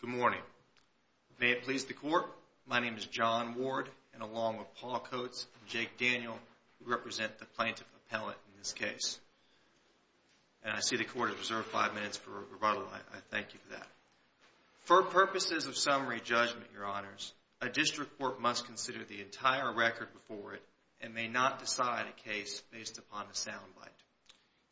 Good morning. May it please the court, my name is John Ward, and along with Paul Coates and Jake Daniel, who represent the plaintiff appellant in this case. And I see the court has reserved five minutes for rebuttal, I thank you for that. For purposes of summary judgment, your honors, a district court must consider the entire record before it and may not decide a case based upon a sound bite.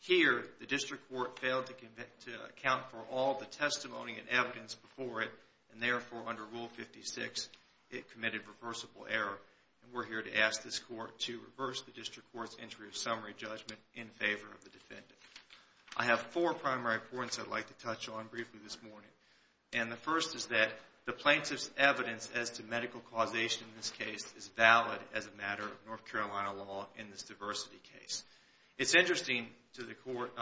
Here, the district court failed to account for all the testimony and evidence before it, and therefore under Rule 56, it committed reversible error. And we're here to ask this court to reverse the district court's entry of summary judgment in favor of the defendant. I have four primary points I'd like to touch on briefly this morning. And the first is that the plaintiff's evidence as to medical causation in this case is valid as a matter of North Carolina law in this diversity case. It's interesting to the court,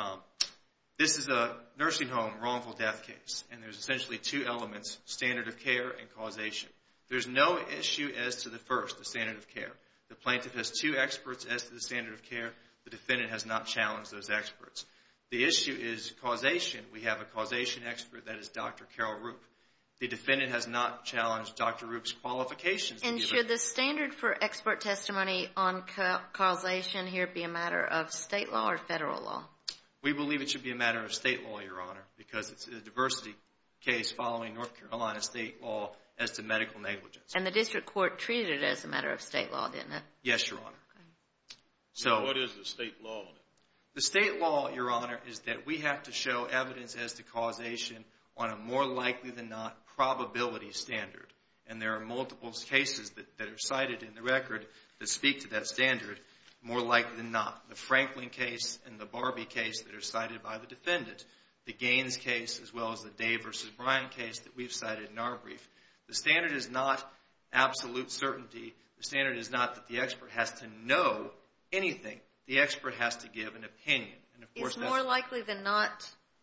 this is a nursing home wrongful death case, and there's essentially two elements, standard of care and causation. There's no issue as to the first, the standard of care. The plaintiff has two experts as to the standard of care, the defendant has not challenged those experts. The issue is causation, we have a causation expert that is Dr. Carol Rupp. The defendant has not challenged Dr. Rupp's qualifications. And should the standard for expert testimony on causation here be a matter of state law or federal law? We believe it should be a matter of state law, Your Honor, because it's a diversity case following North Carolina state law as to medical negligence. And the district court treated it as a matter of state law, didn't it? Yes, Your Honor. So what is the state law? The state law, Your Honor, is that we have to show evidence as to causation on a more likely than not probability standard. And there are multiple cases that are cited in the record that speak to that standard, more likely than not. The Franklin case and the Barbie case that are cited by the defendant. The Gaines case as well as the Dave versus Brian case that we've cited in our brief. The standard is not absolute certainty. The standard is not that the expert has to know anything. The expert has to give an opinion. Is more likely than not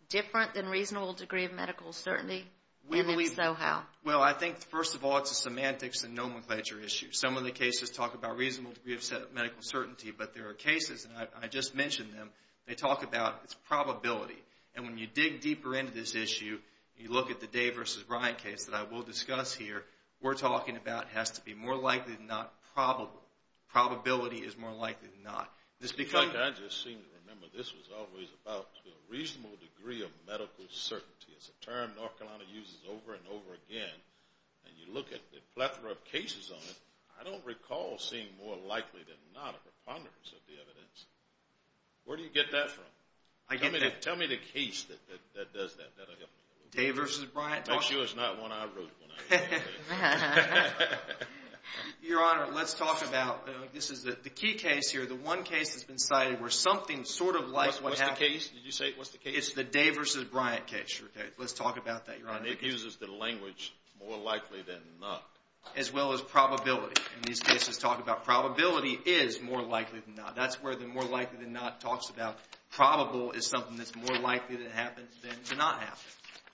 different than reasonable degree of medical certainty? We believe so. How? Well, I think, first of all, it's a semantics and nomenclature issue. Some of the cases talk about reasonable degree of medical certainty, but there are cases, and I just mentioned them, they talk about it's probability. And when you dig deeper into this issue, you look at the Dave versus Brian case that I will discuss here, we're talking about has to be more likely than not probable. Probability is more likely than not. I just seem to remember this was always about a reasonable degree of medical certainty. It's a term North Carolina uses over and over again. And you look at the plethora of cases on it, I don't recall seeing more likely than not a preponderance of the evidence. Where do you get that from? Tell me the case that does that. Dave versus Brian. The key case here, the one case that's been cited where something sort of like what happened. What's the case? Did you say what's the case? It's the Dave versus Brian case. Let's talk about that, Your Honor. And it uses the language more likely than not. As well as probability. And these cases talk about probability is more likely than not. That's where the more likely than not talks about probable is something that's more likely that it happens than to not happen.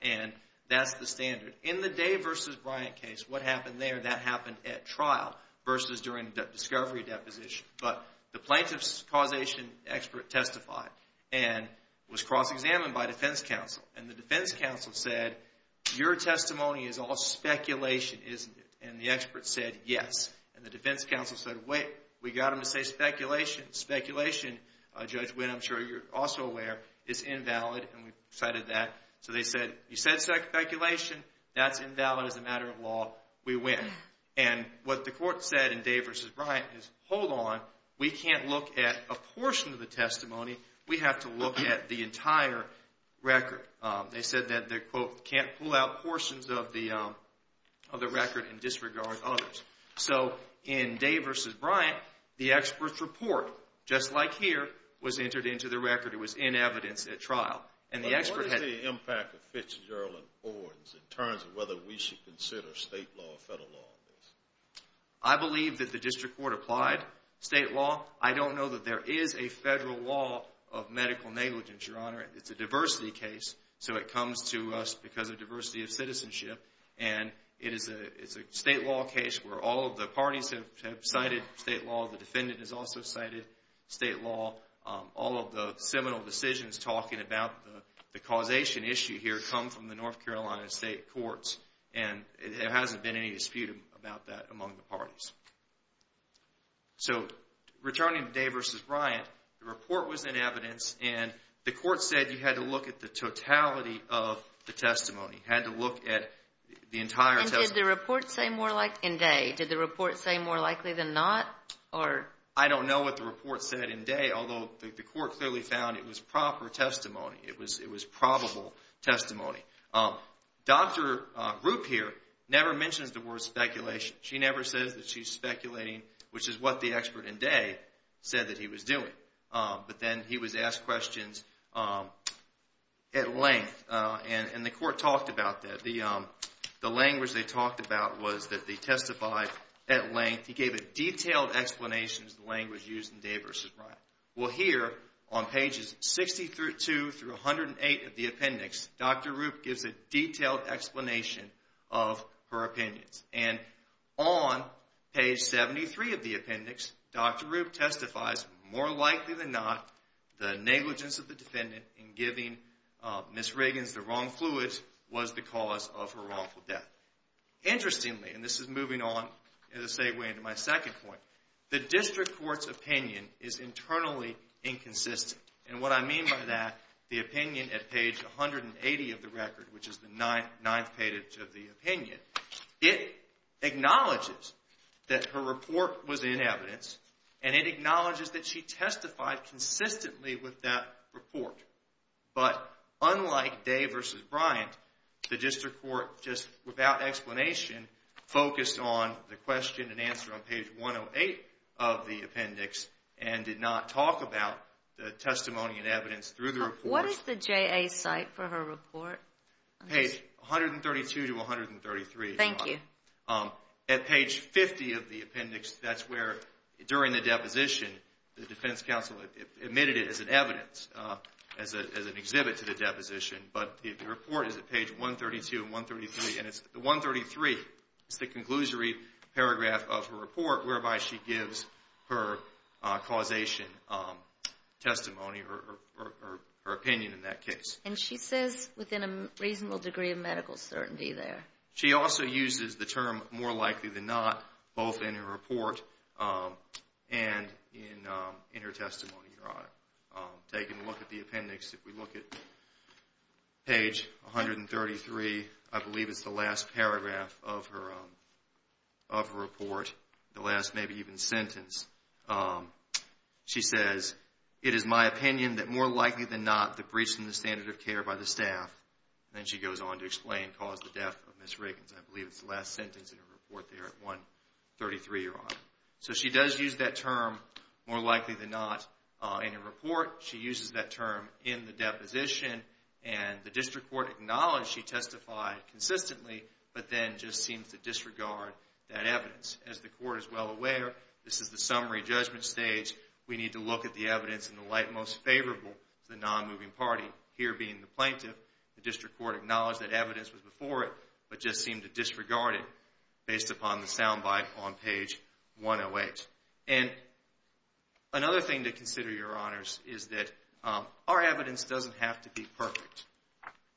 And that's the standard. In the Dave versus Brian case, what happened there, that happened at trial versus during the discovery deposition. But the plaintiff's causation expert testified and was cross-examined by defense counsel. And the defense counsel said, your testimony is all speculation, isn't it? And the expert said yes. And the defense counsel said, wait, we got them to say speculation. Speculation, Judge Wynn, I'm sure you're also aware, is invalid. And we cited that. So they said, you said speculation. That's invalid as a matter of law. We win. And what the court said in Dave versus Brian is, hold on. We can't look at a portion of the testimony. We have to look at the entire record. They said that they, quote, can't pull out portions of the record and disregard others. So in Dave versus Brian, the expert's report, just like here, was entered into the record. It was in evidence at trial. And the expert had What's the impact of Fitzgerald and Ordens in terms of whether we should consider state law or federal law on this? I believe that the district court applied state law. I don't know that there is a federal law of medical negligence, Your Honor. It's a diversity case. So it comes to us because of diversity of citizenship. And it is a state law case where all of the parties have cited state law. The defendant has also cited state law. All of the seminal decisions talking about the causation issue here come from the North Carolina State Courts. And there hasn't been any dispute about that among the parties. So returning to Dave versus Brian, the report was in evidence. And the court said you had to look at the totality of the testimony. You had to look at the entire testimony. And did the report say more likely than not? I don't know what the report said in Dave, although the court clearly found it was proper testimony. It was probable testimony. Dr. Rupp here never mentions the word speculation. She never says that she's speculating, which is what the expert in Dave said that he was doing. But then he was asked questions at length. And the court talked about that. The language they talked about was that they testified at length. He gave a detailed explanation of the language used in Dave versus Brian. Well, here on pages 62 through 108 of the appendix, Dr. Rupp gives a detailed explanation of her opinions. And on page 73 of the appendix, Dr. Rupp testifies, more likely than not, the negligence of the defendant in giving Ms. Riggins the wrong fluids was the cause of her wrongful death. Interestingly, and this is moving on, as I say, way into my second point, the district court's opinion is internally inconsistent. And what I mean by that, the opinion at page 180 of the record, which is the ninth page of the opinion, it acknowledges that her report was in evidence, and it acknowledges that she testified consistently with that report. But unlike Dave versus Brian, the district court, just without explanation, focused on the question and answer on page 108 of the appendix and did not talk about the testimony and evidence through the report. What is the JA's cite for her report? Page 132 to 133. Thank you. At page 50 of the appendix, that's where, during the deposition, the defense counsel admitted it as an evidence, as an exhibit to the deposition. But the report is at page 132 and 133, and it's the 133, it's the conclusory paragraph of her report, whereby she gives her causation testimony or her opinion in that case. And she says within a reasonable degree of medical certainty there. She also uses the term more likely than not, both in her report and in her testimony. Taking a look at the appendix, if we look at page 133, I believe it's the last paragraph of her report, the last maybe even sentence. She says, it is my opinion that more likely than not, the breach in the standard of care by the staff, and then she goes on to explain, caused the death of Ms. Riggins. I believe it's the last sentence in her report there at 133, Your Honor. So she does use that term, more likely than not, in her report. She uses that term in the deposition, and the district court acknowledged she testified consistently, but then just seems to disregard that evidence. As the court is well aware, this is the summary judgment stage. We need to look at the evidence in the light most favorable to the non-moving party, here being the plaintiff. The district court acknowledged that evidence was before it, but just seemed to disregard it, based upon the sound bite on page 108. And another thing to consider, Your Honors, is that our evidence doesn't have to be perfect.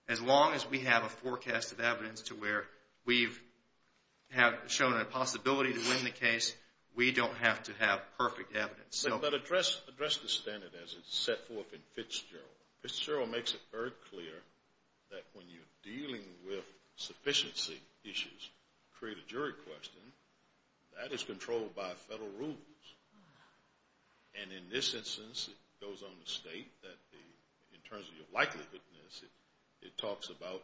As long as we have a forecast of evidence to where we have shown a possibility to win the case, we don't have to have perfect evidence. But address the standard as it's set forth in Fitzgerald. Fitzgerald makes it very clear that when you're dealing with sufficiency issues, create a jury question, that is controlled by federal rules. And in this instance, it goes on to state that in terms of your likelihoodness, it talks about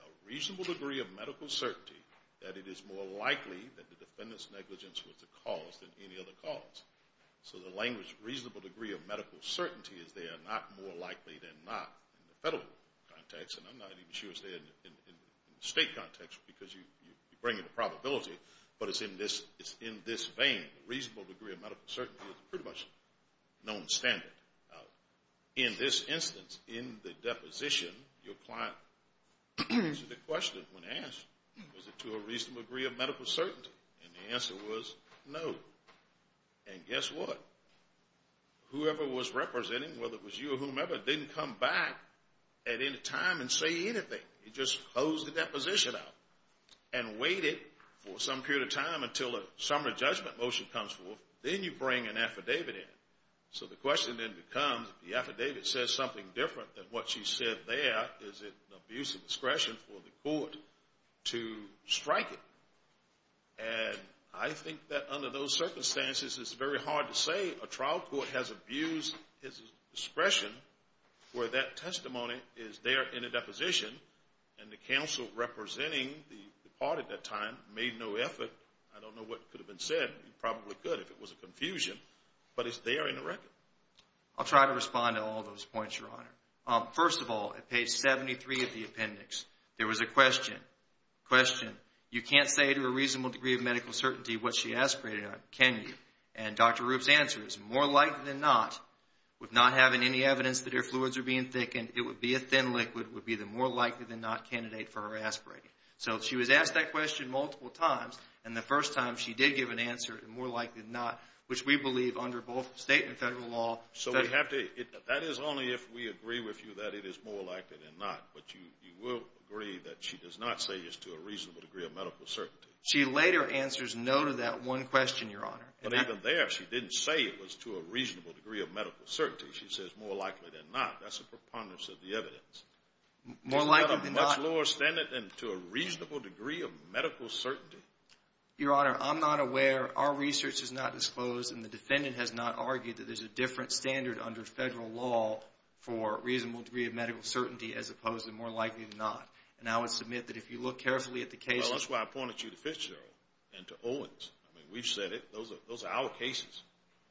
a reasonable degree of medical certainty that it is more likely that the defendant's negligence was the cause than any other cause. So the language, reasonable degree of medical certainty, is there not more likely than not in the federal context, and I'm not even sure it's there in the state context, because you bring in the probability, but it's in this vein, a reasonable degree of medical certainty is pretty much a known standard. In this instance, in the deposition, your client asked the question, when asked, was it to a reasonable degree of medical certainty? And the answer was no. And guess what? Whoever was representing, whether it was you or whomever, didn't come back at any time and say anything. He just posed the deposition out and waited for some period of time until a summary judgment motion comes forth. Then you bring an affidavit in. So the question then becomes, if the affidavit says something different than what she said there, is it an abuse of discretion for the court to strike it? And I think that under those circumstances, it's very hard to say a trial court has abused its discretion where that testimony is there in a deposition, and the counsel representing the party at that time made no effort. I don't know what could have been said. It probably could if it was a confusion, but it's there in the record. I'll try to respond to all those points, Your Honor. First of all, at page 73 of the appendix, there was a question. Question. You can't say to a reasonable degree of medical certainty what she aspirated on, can you? And Dr. Rupp's answer is, more likely than not, with not having any evidence that her fluids are being thickened, it would be a thin liquid would be the more likely than not candidate for her aspirating. So she was asked that question multiple times, and the first time she did give an answer, more likely than not, which we believe under both state and federal law. So we have to, that is only if we agree with you that it is more likely than not. But you will agree that she does not say it's to a reasonable degree of medical certainty. She later answers no to that one question, Your Honor. But even there, she didn't say it was to a reasonable degree of medical certainty. She says more likely than not. That's a preponderance of the evidence. More likely than not. Is that a much lower standard than to a reasonable degree of medical certainty? Your Honor, I'm not aware. Our research has not disclosed, and the defendant has not argued that there's a different standard under federal law for a reasonable degree of medical certainty as opposed to more likely than not. And I would submit that if you look carefully Well, that's why I pointed you to Fitzgerald and to Owens. I mean, we've said it. Those are our cases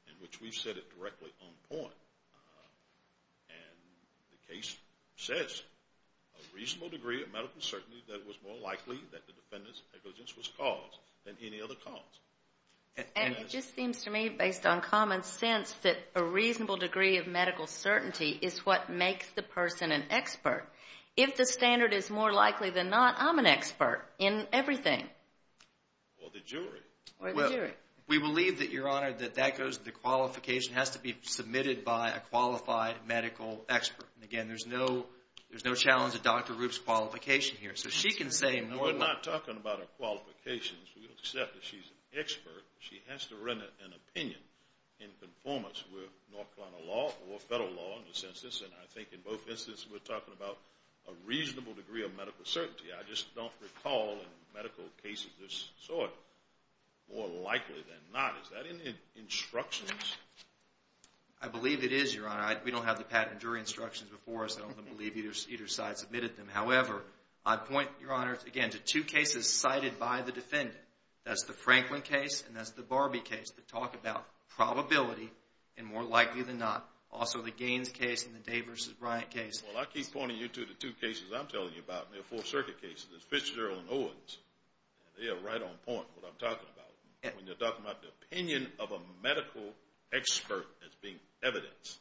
in which we've said it directly on point. And the case says a reasonable degree of medical certainty that it was more likely that the defendant's negligence was caused than any other cause. And it just seems to me, based on common sense, that a reasonable degree of medical certainty is what makes the person an expert. If the standard is more likely than not, I'm an expert in everything. Or the jury. Or the jury. We believe that, Your Honor, that that goes to the qualification has to be submitted by a qualified medical expert. And again, there's no challenge to Dr. Rupp's qualification here. So she can say more likely. No, we're not talking about her qualifications. We accept that she's an expert. She has to render an opinion in conformance with North Carolina law or federal law in this instance. And I think in both instances, we're talking about a reasonable degree of medical certainty. I just don't recall in medical cases of this sort more likely than not. Is that in the instructions? I believe it is, Your Honor. We don't have the patent jury instructions before us. I don't believe either side submitted them. However, I'd point, Your Honor, again, to two cases cited by the defendant. That's the Franklin case and that's the Barbie case that talk about probability and more likely than not. Also the Gaines case and the Dave v. Bryant case. Well, I keep pointing you to the two cases I'm telling you about. They're four-circuit cases. It's Fitzgerald and Owens. They are right on point with what I'm talking about when you're talking about the opinion of a medical expert as being evidence.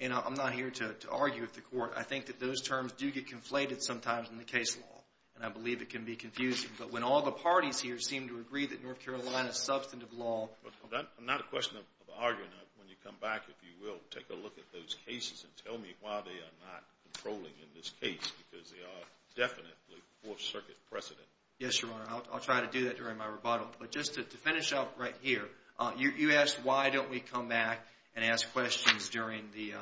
And I'm not here to argue with the court. I think that those terms do get conflated sometimes in the case law. And I believe it can be confusing. But when all the parties here seem to agree that North Carolina's substantive law... I'm not a question of arguing. When you come back, if you will, take a look at those cases and tell me why they are not controlling in this case because they are definitely four-circuit precedent. Yes, Your Honor. I'll try to do that during my rebuttal. But just to finish up right here, you asked why don't we come back and ask questions during the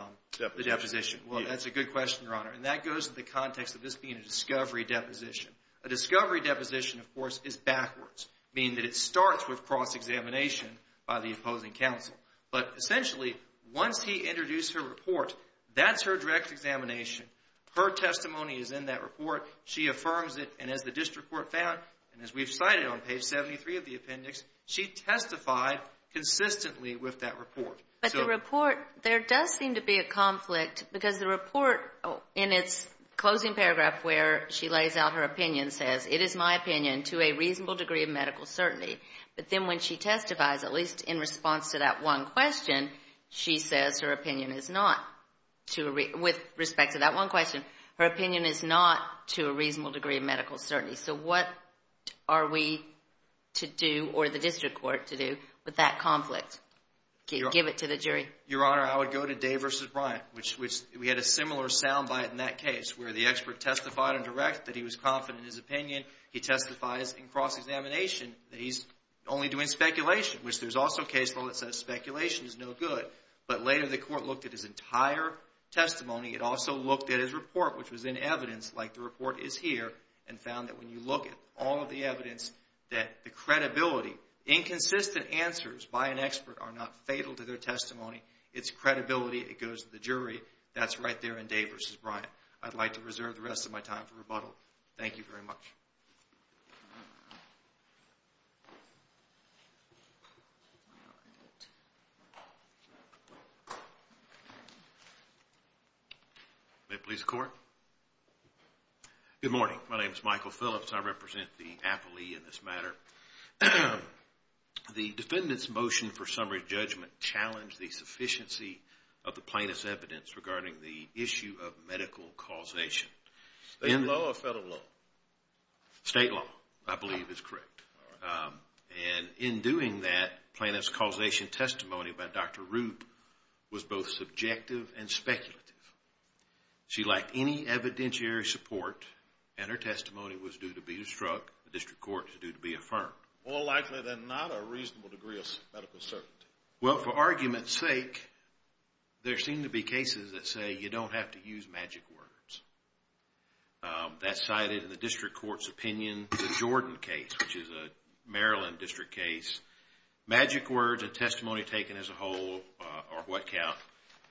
deposition. Well, that's a good question, Your Honor. And that goes to the context of this being a discovery deposition. A discovery deposition, of course, is backwards, meaning that it starts with cross-examination by the opposing counsel. But essentially, once he introduced her report, that's her direct examination. Her testimony is in that report. She affirms it. And as the district court found, and as we've cited on page 73 of the appendix, she testified consistently with that report. But the report, there does seem to be a conflict because the report in its closing paragraph where she lays out her opinion says, it is my opinion to a reasonable degree of medical certainty. But then when she testifies, at least in response to that one question, she says her opinion is not, with respect to that one question, her opinion is not to a reasonable degree of medical certainty. So what are we to do or the district court to do with that conflict? Give it to the jury. Your Honor, I would go to Day v. Bryant, which we had a similar soundbite in that case where the expert testified in direct that he was confident in his opinion. He testifies in his cross-examination that he's only doing speculation, which there's also a case law that says speculation is no good. But later the court looked at his entire testimony. It also looked at his report, which was in evidence, like the report is here, and found that when you look at all of the evidence, that the credibility, inconsistent answers by an expert are not fatal to their testimony. It's credibility that goes to the jury. That's right there in Day v. Bryant. I'd like to reserve the rest of my time for rebuttal. Thank you very much. All right. May it please the court. Good morning. My name is Michael Phillips. I represent the appellee in this matter. The defendant's motion for summary judgment challenged the sufficiency of the plaintiff's evidence regarding the issue of medical causation. State law or federal law? State law, I believe, is correct. And in doing that, the plaintiff's causation testimony by Dr. Rube was both subjective and speculative. She lacked any evidentiary support, and her testimony was due to be obstructed. The district court is due to be affirmed. More likely than not, a reasonable degree of medical certainty. Well, for argument's sake, there seem to be cases that say you don't have to use magic words. That's cited in the district court's opinion. The Jordan case, which is a Maryland district case. Magic words and testimony taken as a whole are what count.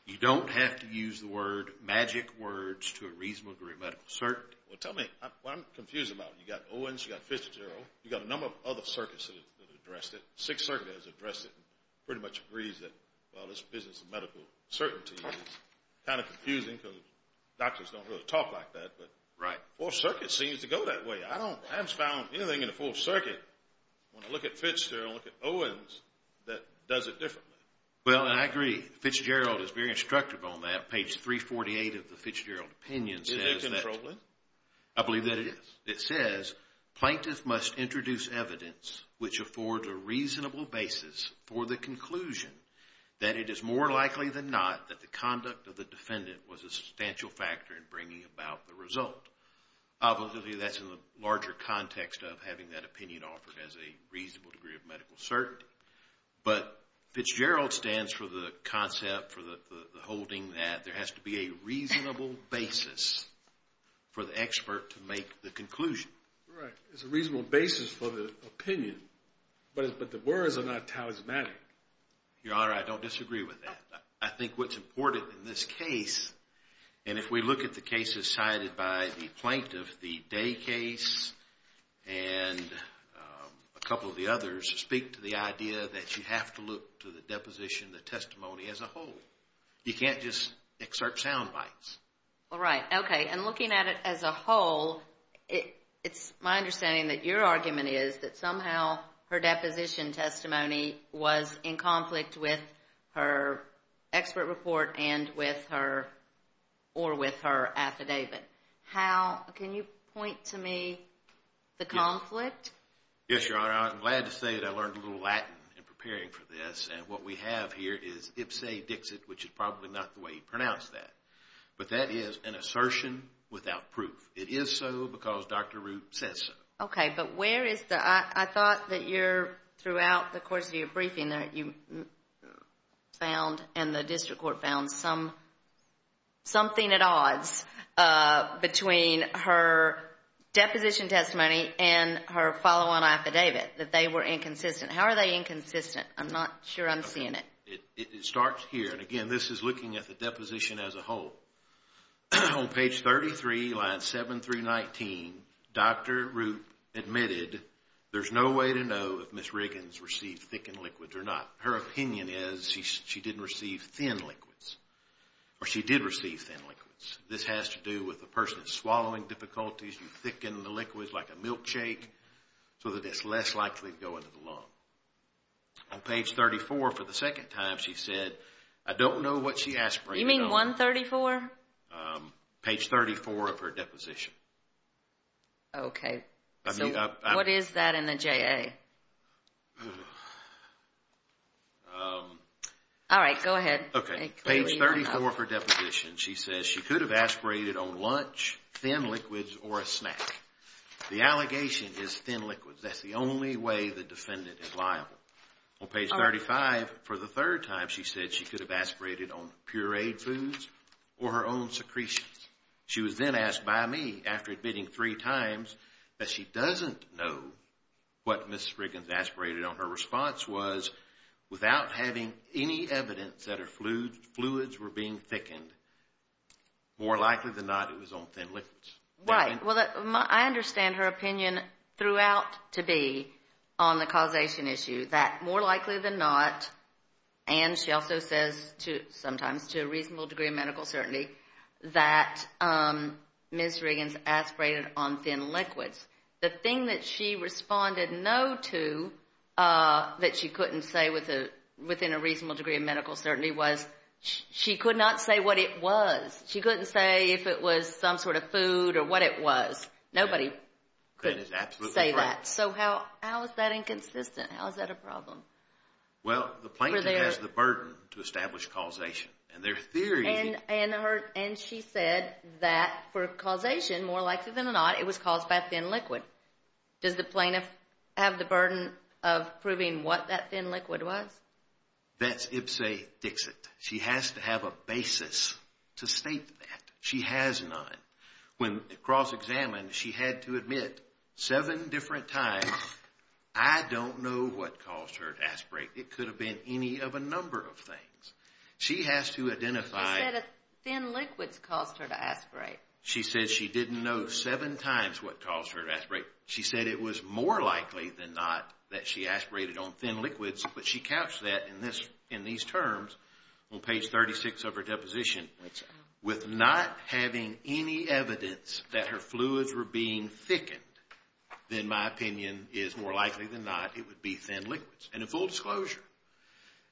You don't have to use the word magic words to a reasonable degree of medical certainty. Well, tell me, what I'm confused about, you've got Owens, you've got Fitzgerald, you've got a number of other circuits that have addressed it. Sixth Circuit has addressed it and pretty much agrees that this business of medical certainty is kind of confusing because doctors don't really talk like that. Right. Fourth Circuit seems to go that way. I haven't found anything in the Fourth Circuit, when I look at Fitzgerald and look at Owens, that does it differently. Well, I agree. Fitzgerald is very instructive on that. Page 348 of the Fitzgerald opinion says that... Is it controlling? I believe that it is. It says, plaintiff must introduce evidence which affords a reasonable basis for the conclusion that it is more likely than not that the conduct of the defendant was a substantial factor in bringing about the result. Obviously, that's in the larger context of having that opinion offered as a reasonable degree of medical certainty. But Fitzgerald stands for the concept, for the holding that there has to be a reasonable basis for the expert to make the conclusion. Right. It's a reasonable basis for the opinion. But the words are not talismanic. Your Honor, I don't disagree with that. I think what's important in this case, and if we look at the cases cited by the plaintiff, the Day case and a couple of the others, speak to the idea that you have to look to the deposition, the testimony as a whole. You can't just excerpt sound bites. All right. Okay. And looking at it as a whole, it's my understanding that your argument is that somehow her deposition testimony was in conflict with her expert report or with her affidavit. Can you point to me the conflict? Yes, Your Honor. I'm glad to say that I learned a little Latin in preparing for this, and what we have here is ipse dixit, which is probably not the way you pronounce that. But that is an assertion without proof. It is so because Dr. Root says so. Okay. But I thought that throughout the course of your briefing that you found and the district court found something at odds between her deposition testimony and her follow-on affidavit, that they were inconsistent. How are they inconsistent? I'm not sure I'm seeing it. It starts here. And again, this is looking at the deposition as a whole. On page 33, lines 7 through 19, Dr. Root admitted there's no way to know if Ms. Riggins received thickened liquids or not. Her opinion is she didn't receive thin liquids. Or she did receive thin liquids. This has to do with the person's swallowing difficulties. You thicken the liquids like a milkshake so that it's less likely to go into the lung. On page 34, for the second time, she said, I don't know what she aspirated on. You mean 134? Page 34 of her deposition. Okay. So what is that in the JA? Alright, go ahead. Okay. Page 34 of her deposition, she says she could have aspirated on lunch, thin liquids, or a snack. The allegation is thin liquids. That's the only way the defendant is liable. On page 35, for the third time, she said she could have aspirated on pureed foods or her own secretions. She was then asked by me, after admitting three times, that she doesn't know what Ms. Riggins aspirated on. Her response was, without having any evidence that her fluids were being thickened, more likely than not, it was on thin liquids. Right. Well, I understand her opinion throughout to be on the causation issue, that more likely than not, and she also says sometimes to a reasonable degree of medical certainty, that Ms. Riggins aspirated on thin liquids. The thing that she responded no to that she couldn't say within a reasonable degree of medical certainty was, she could not say what it was. She couldn't say if it was some sort of food or what it was. Nobody could say that. So how is that inconsistent? How is that a problem? Well, the plaintiff has the burden to establish causation. And she said that for causation, more likely than not, it was caused by a thin liquid. Does the plaintiff have the burden of proving what that thin liquid was? That's ipsa dixit. She has to have a basis to state that. She has none. When cross-examined, she had to admit seven different times I don't know what caused her to aspirate. It could have been any of a number of things. She has to identify She said thin liquids caused her to aspirate. She said she didn't know seven times what caused her to aspirate. She said it was more likely than not that she aspirated on thin liquids, but she couched that in these terms on page 36 of her deposition. With not having any evidence that her fluids were being thickened, then my opinion is more likely than not it would be thin liquids. And in full disclosure,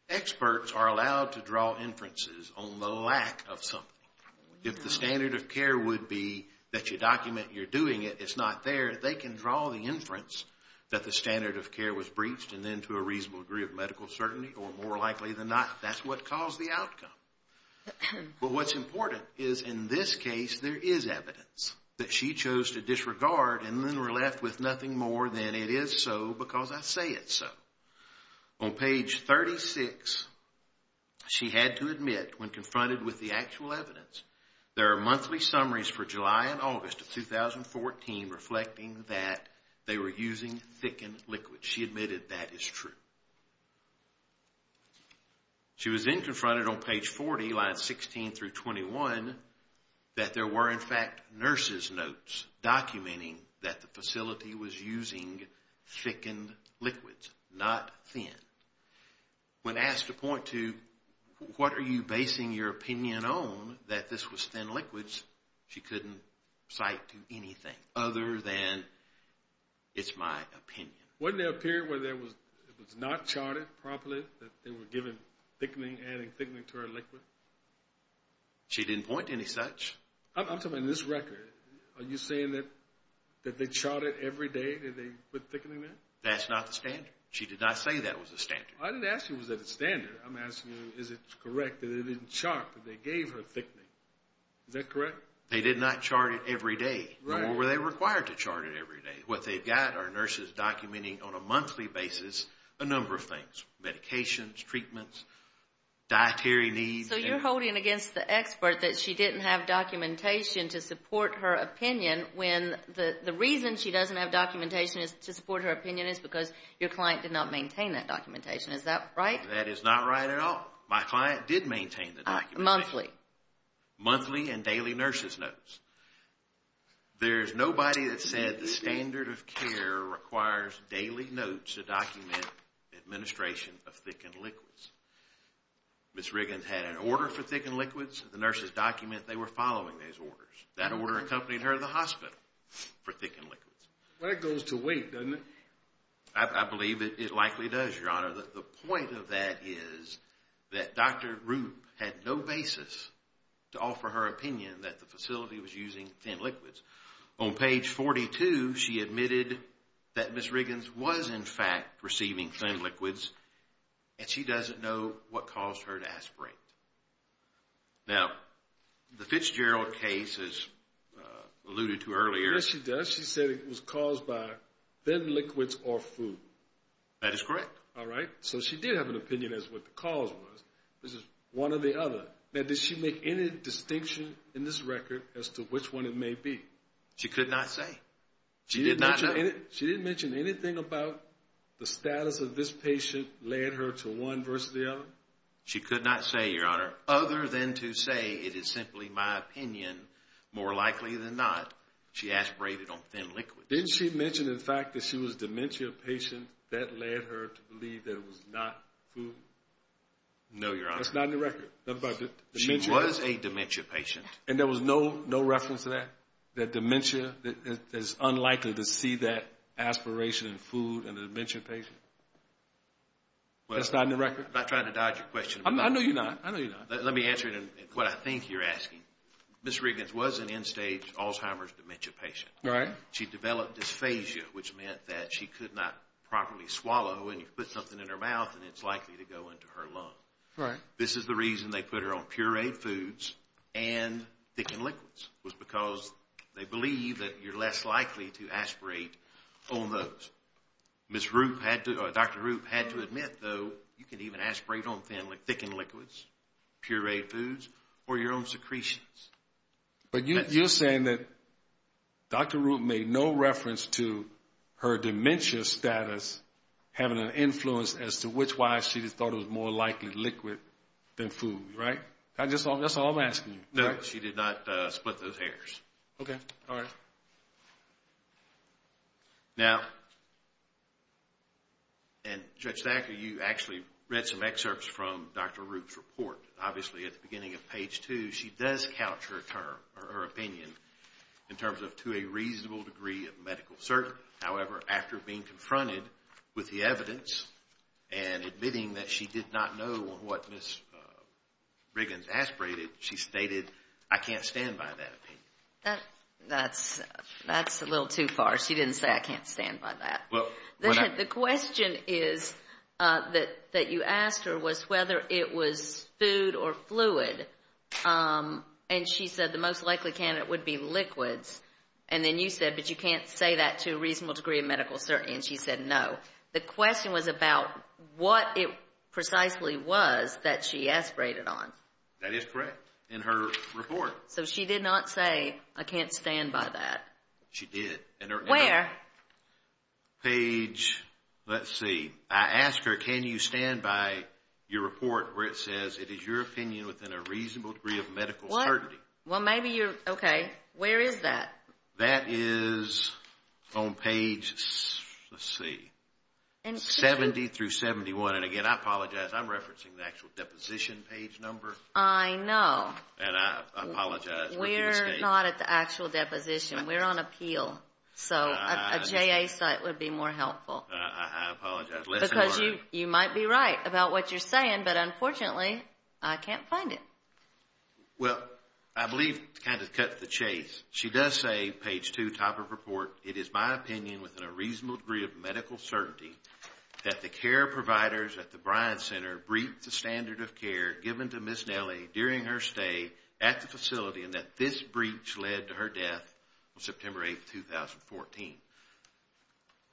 experts are allowed to draw inferences on the lack of something. If the standard of care would be that you document you're doing it, it's not there they can draw the inference that the standard of care was breached and then to a reasonable degree of medical certainty, or more likely than not, that's what caused the But what's important is in this case there is evidence that she chose to disregard and then were left with nothing more than it is so because I say it's so. On page 36 she had to admit when confronted with the actual evidence there are monthly summaries for July and August of 2014 reflecting that they were using thickened liquids. She admitted that is true. She was then confronted on page 40 lines 16 through 21 that there were in fact nurses notes documenting that the facility was using thickened liquids, not thin. When asked to point to what are you basing your opinion on that this was thin liquids, she couldn't cite to anything other than it's my opinion. Wasn't there a period where it was not charted properly that they were giving thickening, adding thickening to her liquid? She didn't point to any such. I'm talking about in this record, are you saying that they charted every day that they put thickening in? That's not the standard. She did not say that was the standard. I didn't ask you was that the standard. I'm asking you is it correct that it didn't chart but they gave her thickening. Is that correct? They did not chart it every day, nor were they required to chart it every day. What they've got are nurses documenting on a monthly basis a number of things, medications, treatments, dietary needs. So you're holding against the expert that she didn't have documentation to support her opinion when the reason she doesn't have documentation to support her opinion is because your client did not maintain that documentation. Is that right? That is not right at all. My client did maintain the documentation. Monthly? Monthly and daily nurses notes. There's nobody that said the standard of care requires daily notes to document administration of thickened liquids. Ms. Riggins had an order for thickened liquids. The nurses document they were following those orders. That order accompanied her to the hospital for thickened liquids. That goes to weight, doesn't it? I believe it likely does, Your Honor. The point of that is that Dr. Rupp had no basis to offer her opinion that the facility was using thin liquids. On page 42 she admitted that Ms. Riggins was in fact receiving thin liquids and she doesn't know what caused her to aspirate. Now, the Fitzgerald case alluded to earlier. Yes, she does. She said it was caused by thin liquids or food. That is correct. Alright. So she did have an opinion as to what the cause was. This is one or the other. Now, did she make any distinction in this record as to which one it may be? She could not say. She didn't mention anything about the status of this patient led her to one versus the other? She could not say, Your Honor, other than to say it is simply my opinion. More likely than not, she aspirated on thin liquids. Didn't she mention, in fact, that she was a dementia patient that led her to believe that it was not food? No, Your Honor. That's not in the record. She was a dementia patient. And there was no reference to that? That dementia is unlikely to see that aspiration in food in a dementia patient? That's not in the record? I'm not trying to dodge your question. I know you're not. I know you're not. Let me answer it in what I think you're asking. Ms. Riggins was an end-stage Alzheimer's dementia patient. Right. She developed dysphagia which meant that she could not properly swallow and you put something in her mouth and it's likely to go into her lung. Right. This is the reason they put her on pureed foods and thickened liquids was because they believe that you're less likely to aspirate on those. Dr. Rupp had to admit, though, you can even aspirate on thickened liquids, pureed foods, or your own secretions. But you're saying that Dr. Rupp made no reference to her dementia status having an influence as to which why she thought it was more likely liquid than food, right? That's all I'm asking. No, she did not split those hairs. Now, and Judge Thacker, you actually read some excerpts from Dr. Rupp's report. Obviously, at the beginning of page 2, she does couch her opinion in terms of to a reasonable degree of medical certainty. However, after being confronted with the evidence and admitting that she did not know what Ms. Briggins aspirated, she stated, I can't stand by that opinion. That's a little too far. She didn't say I can't stand by that. The question is that you asked her was whether it was food or fluid and she said the most likely candidate would be liquids and then you said, but you can't say that to a reasonable degree of medical certainty and she said no. The question was about what it precisely was that she aspirated on. That is correct. In her report. So she did not say I can't stand by that. She did. Where? Page let's see. I asked her can you stand by your report where it says it is your opinion within a reasonable degree of medical certainty. Well, maybe you're, okay. Where is that? That is on page, let's see. 70 through 71. And again, I apologize. I'm referencing the actual deposition page number. I know. And I apologize. We're not at the actual deposition. We're on appeal. So a JA site would be more helpful. I apologize. Lesson learned. Because you might be right about what you're saying, but unfortunately I can't find it. Well, I believe to kind of cut the chase. She does say, page two, top of report, it is my opinion within a reasonable degree of medical certainty that the care providers at the Bryan Center breached the standard of care given to Ms. Nellie during her stay at the facility and that this breach led to her death on September 8, 2014.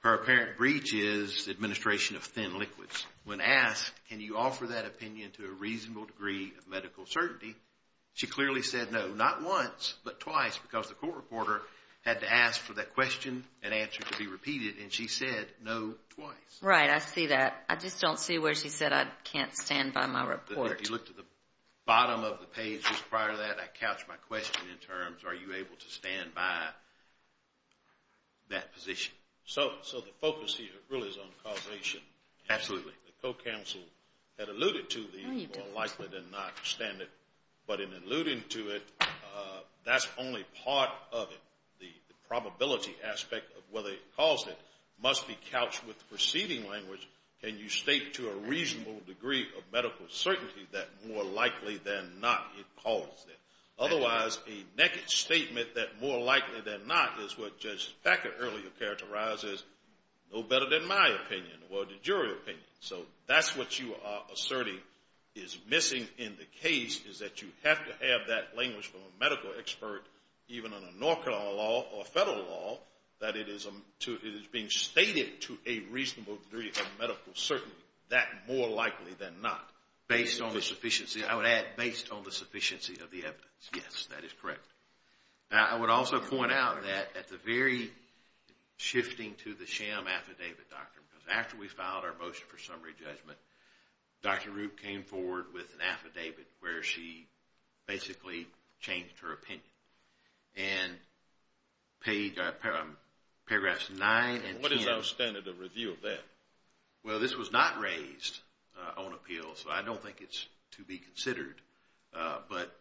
Her apparent breach is administration of thin liquids. When asked can you offer that opinion to a reasonable degree of medical certainty, she clearly said no. Not once, but twice because the court reporter had to ask for that question and answer to be repeated and she said no twice. Right. I see that. I just don't see where she said I can't stand by my report. If you look to the bottom of the page prior to that, I couched my question in terms are you able to stand by that position? So the focus here really is on causation. Absolutely. The co-counsel had alluded to the more likely than not standard, but in alluding to it, that's only part of it. The probability aspect of whether it caused it must be couched with preceding language. Can you state to a reasonable degree of medical certainty that more likely than not it caused it? Otherwise, a naked statement that more likely than not is what Judge Becker earlier characterized as no better than my opinion or the jury opinion. So that's what you are asserting is missing in the case is that you have to have that language from a medical expert, even an inaugural law or federal law that it is being stated to a reasonable degree of medical certainty. That more likely than not. Based on the sufficiency I would add, based on the sufficiency of the evidence. Yes, that is correct. I would also point out that at the very shifting to the sham affidavit doctrine, because after we filed our motion for summary judgment Dr. Rupp came forward with an affidavit where she basically changed her opinion and paragraphs 9 and 10. What is our standard of review of that? Well, this was not raised on appeal so I don't think it's to be considered, but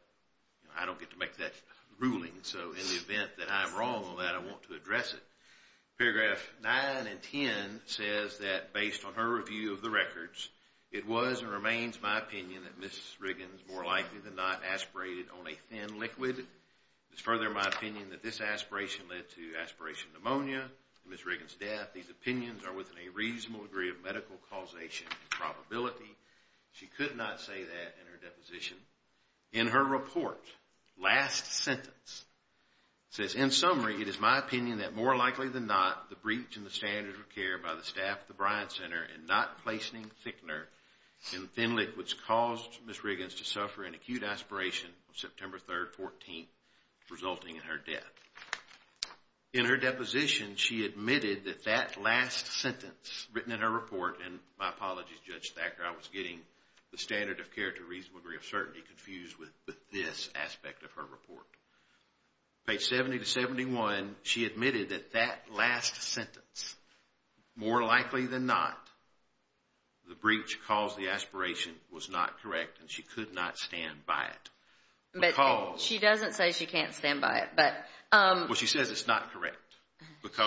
I don't get to make that ruling, so in the event that I am wrong on that I want to address it. Paragraph 9 and 10 says that based on her review of the records, it was and remains my opinion that Mrs. Riggins more likely than not aspirated on a thin liquid. It is further my opinion that this aspiration led to aspiration pneumonia and Mrs. Riggins death. These opinions are within a reasonable degree of medical causation and probability. She could not say that in her deposition. In her report, last sentence says in summary it is my opinion that more likely than not the breach in the standard of care by the staff at the Bryan Center and not placing thickener in thin liquids caused Mrs. Riggins to suffer an acute aspiration on September 3rd, 14th, resulting in her death. In her deposition she admitted that that last sentence written in her report, and my apologies Judge Thacker, I was getting the standard of care to a reasonable degree of certainty confused with this aspect of her report. Page 70 to 71, she admitted that that last sentence, more likely than not the breach caused the aspiration was not correct and she could not stand by it. She doesn't say she can't stand by it. Well she says it's not correct.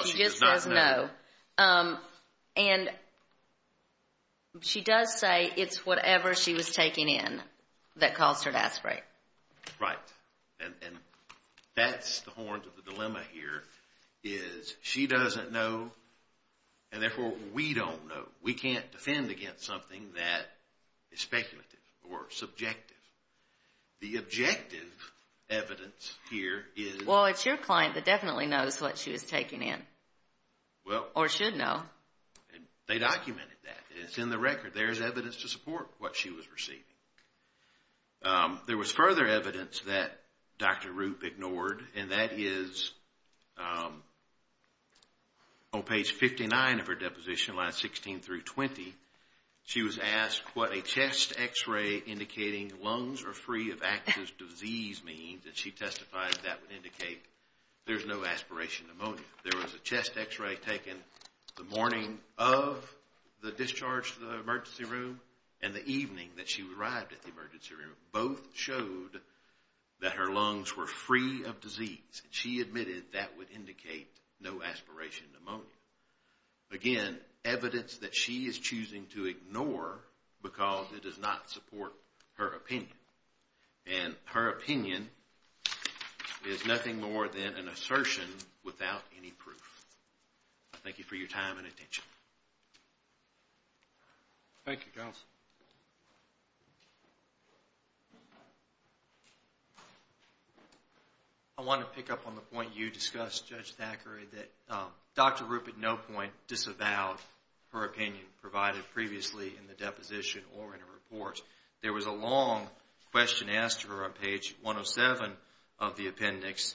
She just says no. And she does say it's whatever she was taking in that caused her to aspirate. Right, and that's the dilemma here is she doesn't know and therefore we don't know. We can't defend against something that is speculative or subjective. The objective evidence here is... Well it's your client that definitely knows what she was taking in or should know. They documented that. It's in the record. There's evidence to support what she was receiving. There was further evidence that is on page 59 of her deposition, lines 16 through 20. She was asked what a chest x-ray indicating lungs are free of active disease means and she testified that that would indicate there's no aspiration pneumonia. There was a chest x-ray taken the morning of the discharge to the emergency room and the evening that she arrived at the emergency room. Both showed that her lungs were free of disease. She admitted that would indicate no aspiration pneumonia. Again, evidence that she is choosing to ignore because it does not support her opinion. And her opinion is nothing more than an assertion without any proof. Thank you for your time and attention. Thank you counsel. I want to pick up on the point you discussed Judge Thackeray that Dr. Rupp at no point disavowed her opinion provided previously in the deposition or in her report. There was a long question asked to her on page 107 of the appendix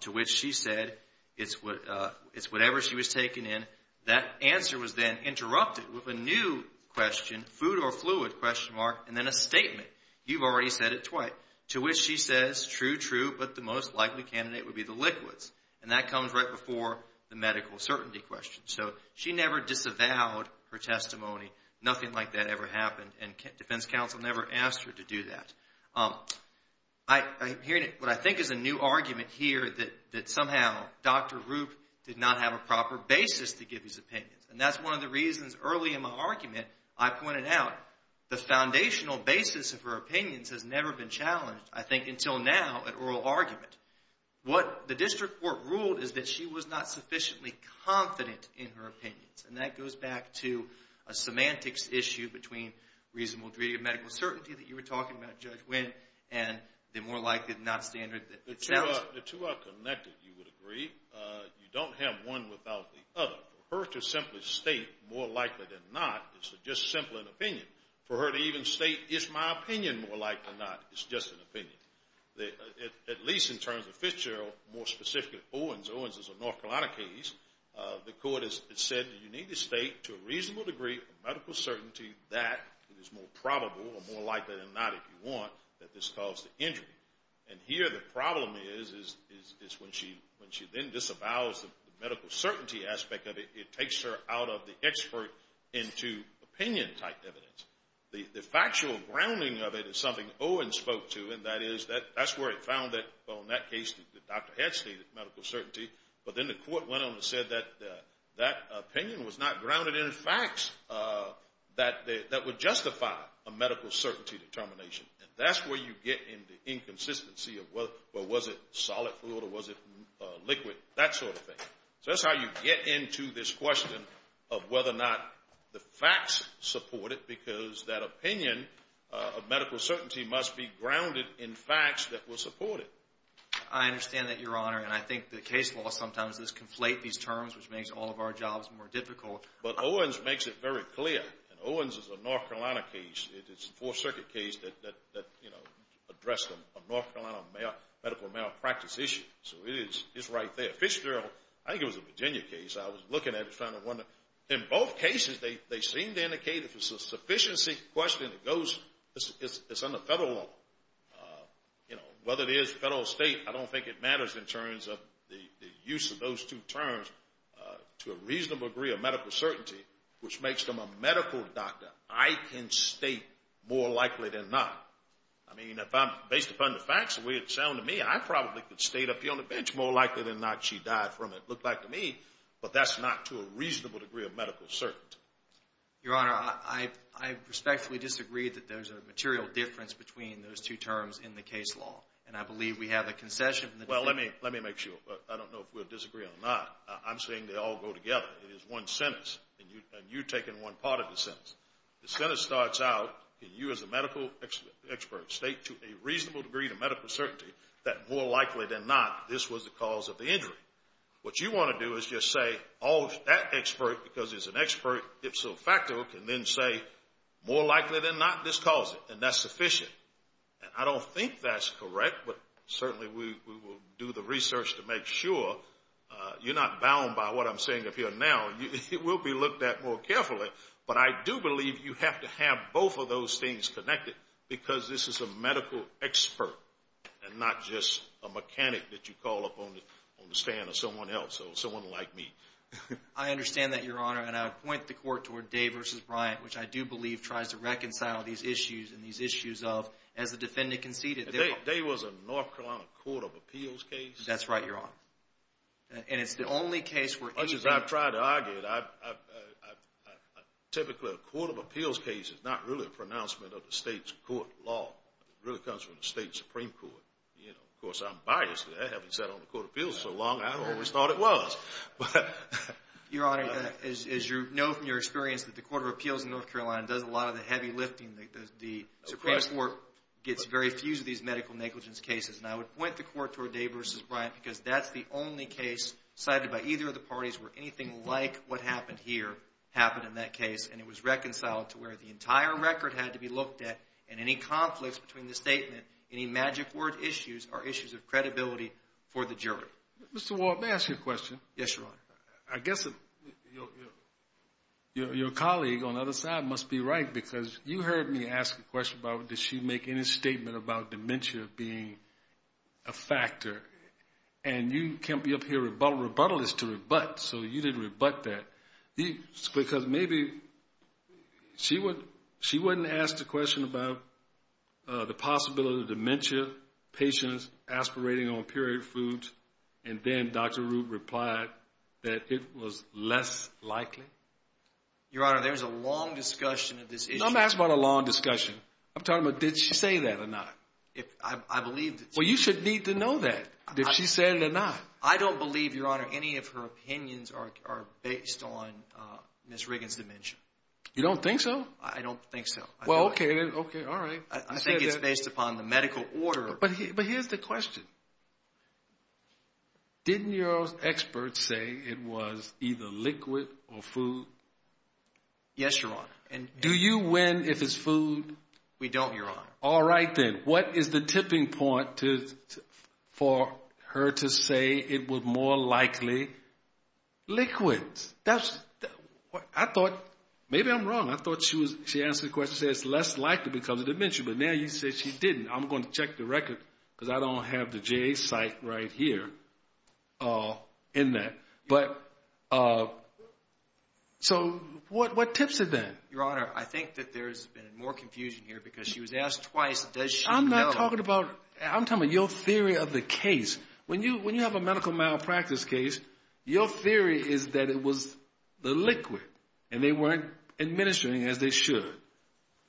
to which she said it's whatever she was taking in. That answer was then interrupted with a new question, food or fluid question mark and then a statement. You've already said it twice. To which she says true, true but the most likely candidate would be the liquids. And that comes right before the medical certainty question. She never disavowed her testimony. Nothing like that ever happened and defense counsel never asked her to do that. What I think is a new argument here that somehow Dr. Rupp did not have a proper basis to give his opinions. And that's one of the reasons early in my argument I pointed out the foundational basis of her opinions has never been challenged I think until now at oral argument. What the district court ruled is that she was not sufficiently confident in her opinions. And that goes back to a semantics issue between reasonable degree of medical certainty that you were talking about Judge Wynn and the more likely than not standard. The two are connected you would agree. You don't have one without the other. For her to simply state more likely than not is to just simply an opinion. For her to even state is my opinion more likely than not is just an opinion. At least in terms of Fitzgerald more specifically Owens. Owens is a North Carolina case. The court has said you need to state to a reasonable degree of medical certainty that is more probable or more likely than not if you want that this caused the injury. And here the problem is when she then disavows the medical certainty aspect of it, it takes her out of the expert into opinion type evidence. The factual grounding of it is something Owens spoke to and that is that's where he found it on that case that the doctor had stated medical certainty. But then the court went on and said that that opinion was not grounded in facts that would justify a medical certainty determination. That's where you get in the inconsistency of what was it solid food or was it liquid? That sort of thing. So that's how you get into this question of whether or not the facts support it because that opinion of medical certainty must be grounded in facts that will support it. I understand that your honor and I think the case law sometimes does conflate these terms which makes all of our jobs more difficult. But Owens makes it very clear. And Owens is a North Carolina case. It's a fourth circuit case that addressed a North Carolina medical malpractice issue. So it is right there. Fitzgerald I think it was a Virginia case. I was looking at it trying to wonder. In both cases they seem to indicate if it's a sufficiency question that goes it's under federal law. Whether it is federal or state I don't think it matters in terms of the use of those two terms to a reasonable degree of medical certainty which makes them a medical doctor. I can state more likely than not. I mean if I'm based upon the facts the way it sounded to me I probably could state a lady on the bench more likely than not she died from it. It looked like to me but that's not to a reasonable degree of medical certainty. Your honor I respectfully disagree that there's a material difference between those two terms in the case law. And I believe we have a concession. Well let me make sure I don't know if we'll disagree or not. I'm saying they all go together. It is one sentence and you're taking one part of the sentence. The sentence starts out and you as a medical expert state to a reasonable degree to medical certainty that more likely than not this was the cause of the injury. What you want to do is just say all that expert because it's an expert if so factual can then say more likely than not this caused it and that's sufficient. And I don't think that's correct but certainly we will do the research to make sure. You're not bound by what I'm saying up here now. It will be looked at more carefully. But I do believe you have to have both of those things connected because this is a medical expert and not just a mechanic that you call up on the stand or someone else or someone like me. I understand that your honor and I would point the court toward Day v. Bryant which I do believe tries to reconcile these issues and these issues of as the defendant conceded Day was a North Carolina Court of Appeals case? That's right your honor. And it's the only case where anything... As much as I've tried to argue it typically a Court of Appeals case is not really a pronouncement of the state's court law. It really comes from the state Supreme Court. Of course I'm biased there. Having sat on the Court of Appeals so long I always thought it was. Your honor, as you know from your experience that the Court of Appeals in North Carolina does a lot of the heavy lifting. The Supreme Court gets very few of these medical negligence cases and I would point the court toward Day v. Bryant because that's the only case cited by either of the parties where anything like what happened here happened in that case and it was reconciled to where the entire record had to be looked at and any conflicts between the statement any magic word issues are issues of credibility for the jury. Mr. Walt, may I ask you a question? Yes your honor. I guess your colleague on the other side must be right because you heard me ask a question about did she make any statement about dementia being a factor and you can't be up here rebuttalist to rebut so you didn't rebut that. Because maybe she wouldn't ask the question about the possibility of dementia patients aspirating on period foods and then Dr. Root replied that it was less likely. Your honor, there's a long discussion of this issue. No I'm not asking about a long discussion. I'm talking about did she say that or not. I believe that she did. Well you should need to know that if she said it or not. I don't believe your honor any of her mentioned Ms. Riggins' dementia. You don't think so? I don't think so. Well okay, alright. I think it's based upon the medical order. But here's the question. Didn't your expert say it was either liquid or food? Yes your honor. Do you win if it's food? We don't your honor. Alright then. What is the tipping point for her to say it was more likely liquids? Maybe I'm wrong. I thought she answered the question and said it's less likely because of dementia. But now you say she didn't. I'm going to check the record because I don't have the JA site right here in that. So what tips are there? Your honor, I think that there's been more confusion here because she was asked twice does she know? I'm talking about your theory of the case. When you have a medical malpractice case, your theory is that it was the liquid and they weren't administering as they should.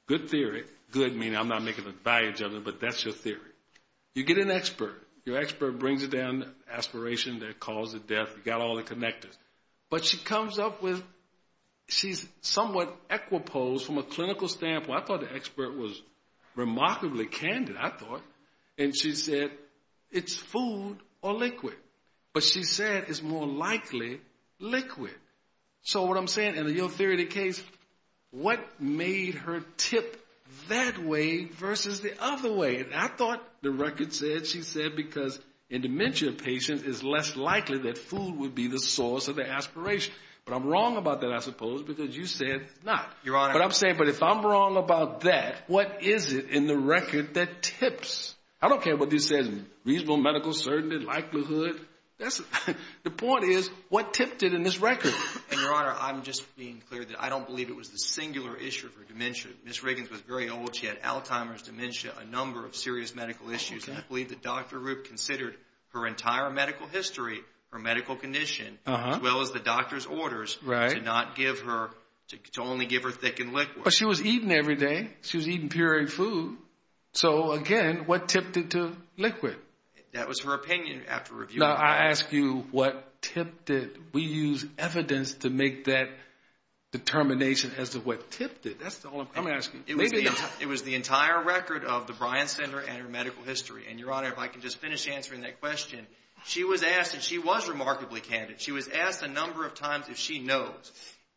Good theory. Good meaning I'm not making a value judgment, but that's your theory. You get an expert. Your expert brings it down to aspiration, the cause of death, you've got all the connectors. But she comes up with she's somewhat equiposed from a clinical standpoint. I thought the expert was remarkably candid, I thought. And she said it's food or liquid. But she said it's more likely liquid. So what I'm saying, in your theory of the case, what made her tip that way versus the other way? And I thought the record said she said because in dementia patients it's less likely that food would be the source of the aspiration. But I'm wrong about that I suppose because you said not. But I'm saying if I'm wrong about that, what is it in the record that tips? I don't care what this says. Reasonable medical certainty, likelihood. The point is, what tipped it in this record? Your Honor, I'm just being clear that I don't believe it was the singular issue for dementia. Ms. Riggins was very old. She had Alzheimer's, dementia, a number of serious medical issues. And I believe that Dr. Rupp considered her entire medical history, her medical condition, as well as the doctor's orders to not give her, to only give her thick and liquid. But she was eating every day. She was eating pureed food. So again, what tipped it to liquid? That was her opinion after review. Now I ask you what tipped it? We use evidence to make that determination as to what tipped it. That's all I'm asking. It was the entire record of the Bryan Center and her medical history. And Your Honor, if I can just finish answering that question, she was asked, and she was remarkably candid, she was asked a number of times if she knows,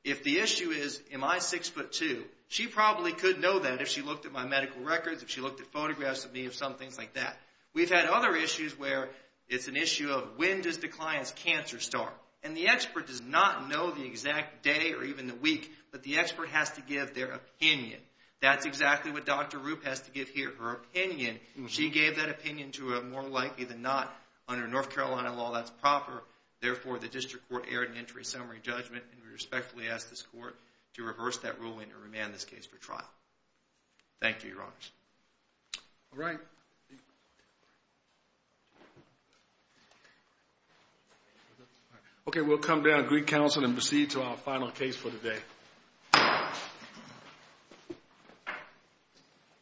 if the issue is am I six foot two? She probably could know that if she looked at my medical records, if she looked at photographs of me, some things like that. We've had other issues where it's an issue of when does declines cancer start? And the expert does not know the exact day or even the week. But the expert has to give their opinion. That's exactly what Dr. Rupp has to give here, her opinion. She gave that opinion to her more likely than not. Under North Carolina law, that's proper. Therefore, the District Court erred in entry summary judgment. And we respectfully ask this Court to reverse that ruling and remand this case for trial. Thank you, Your Honors. Alright. Okay, we'll come down to Greek Council and proceed to our final case for today.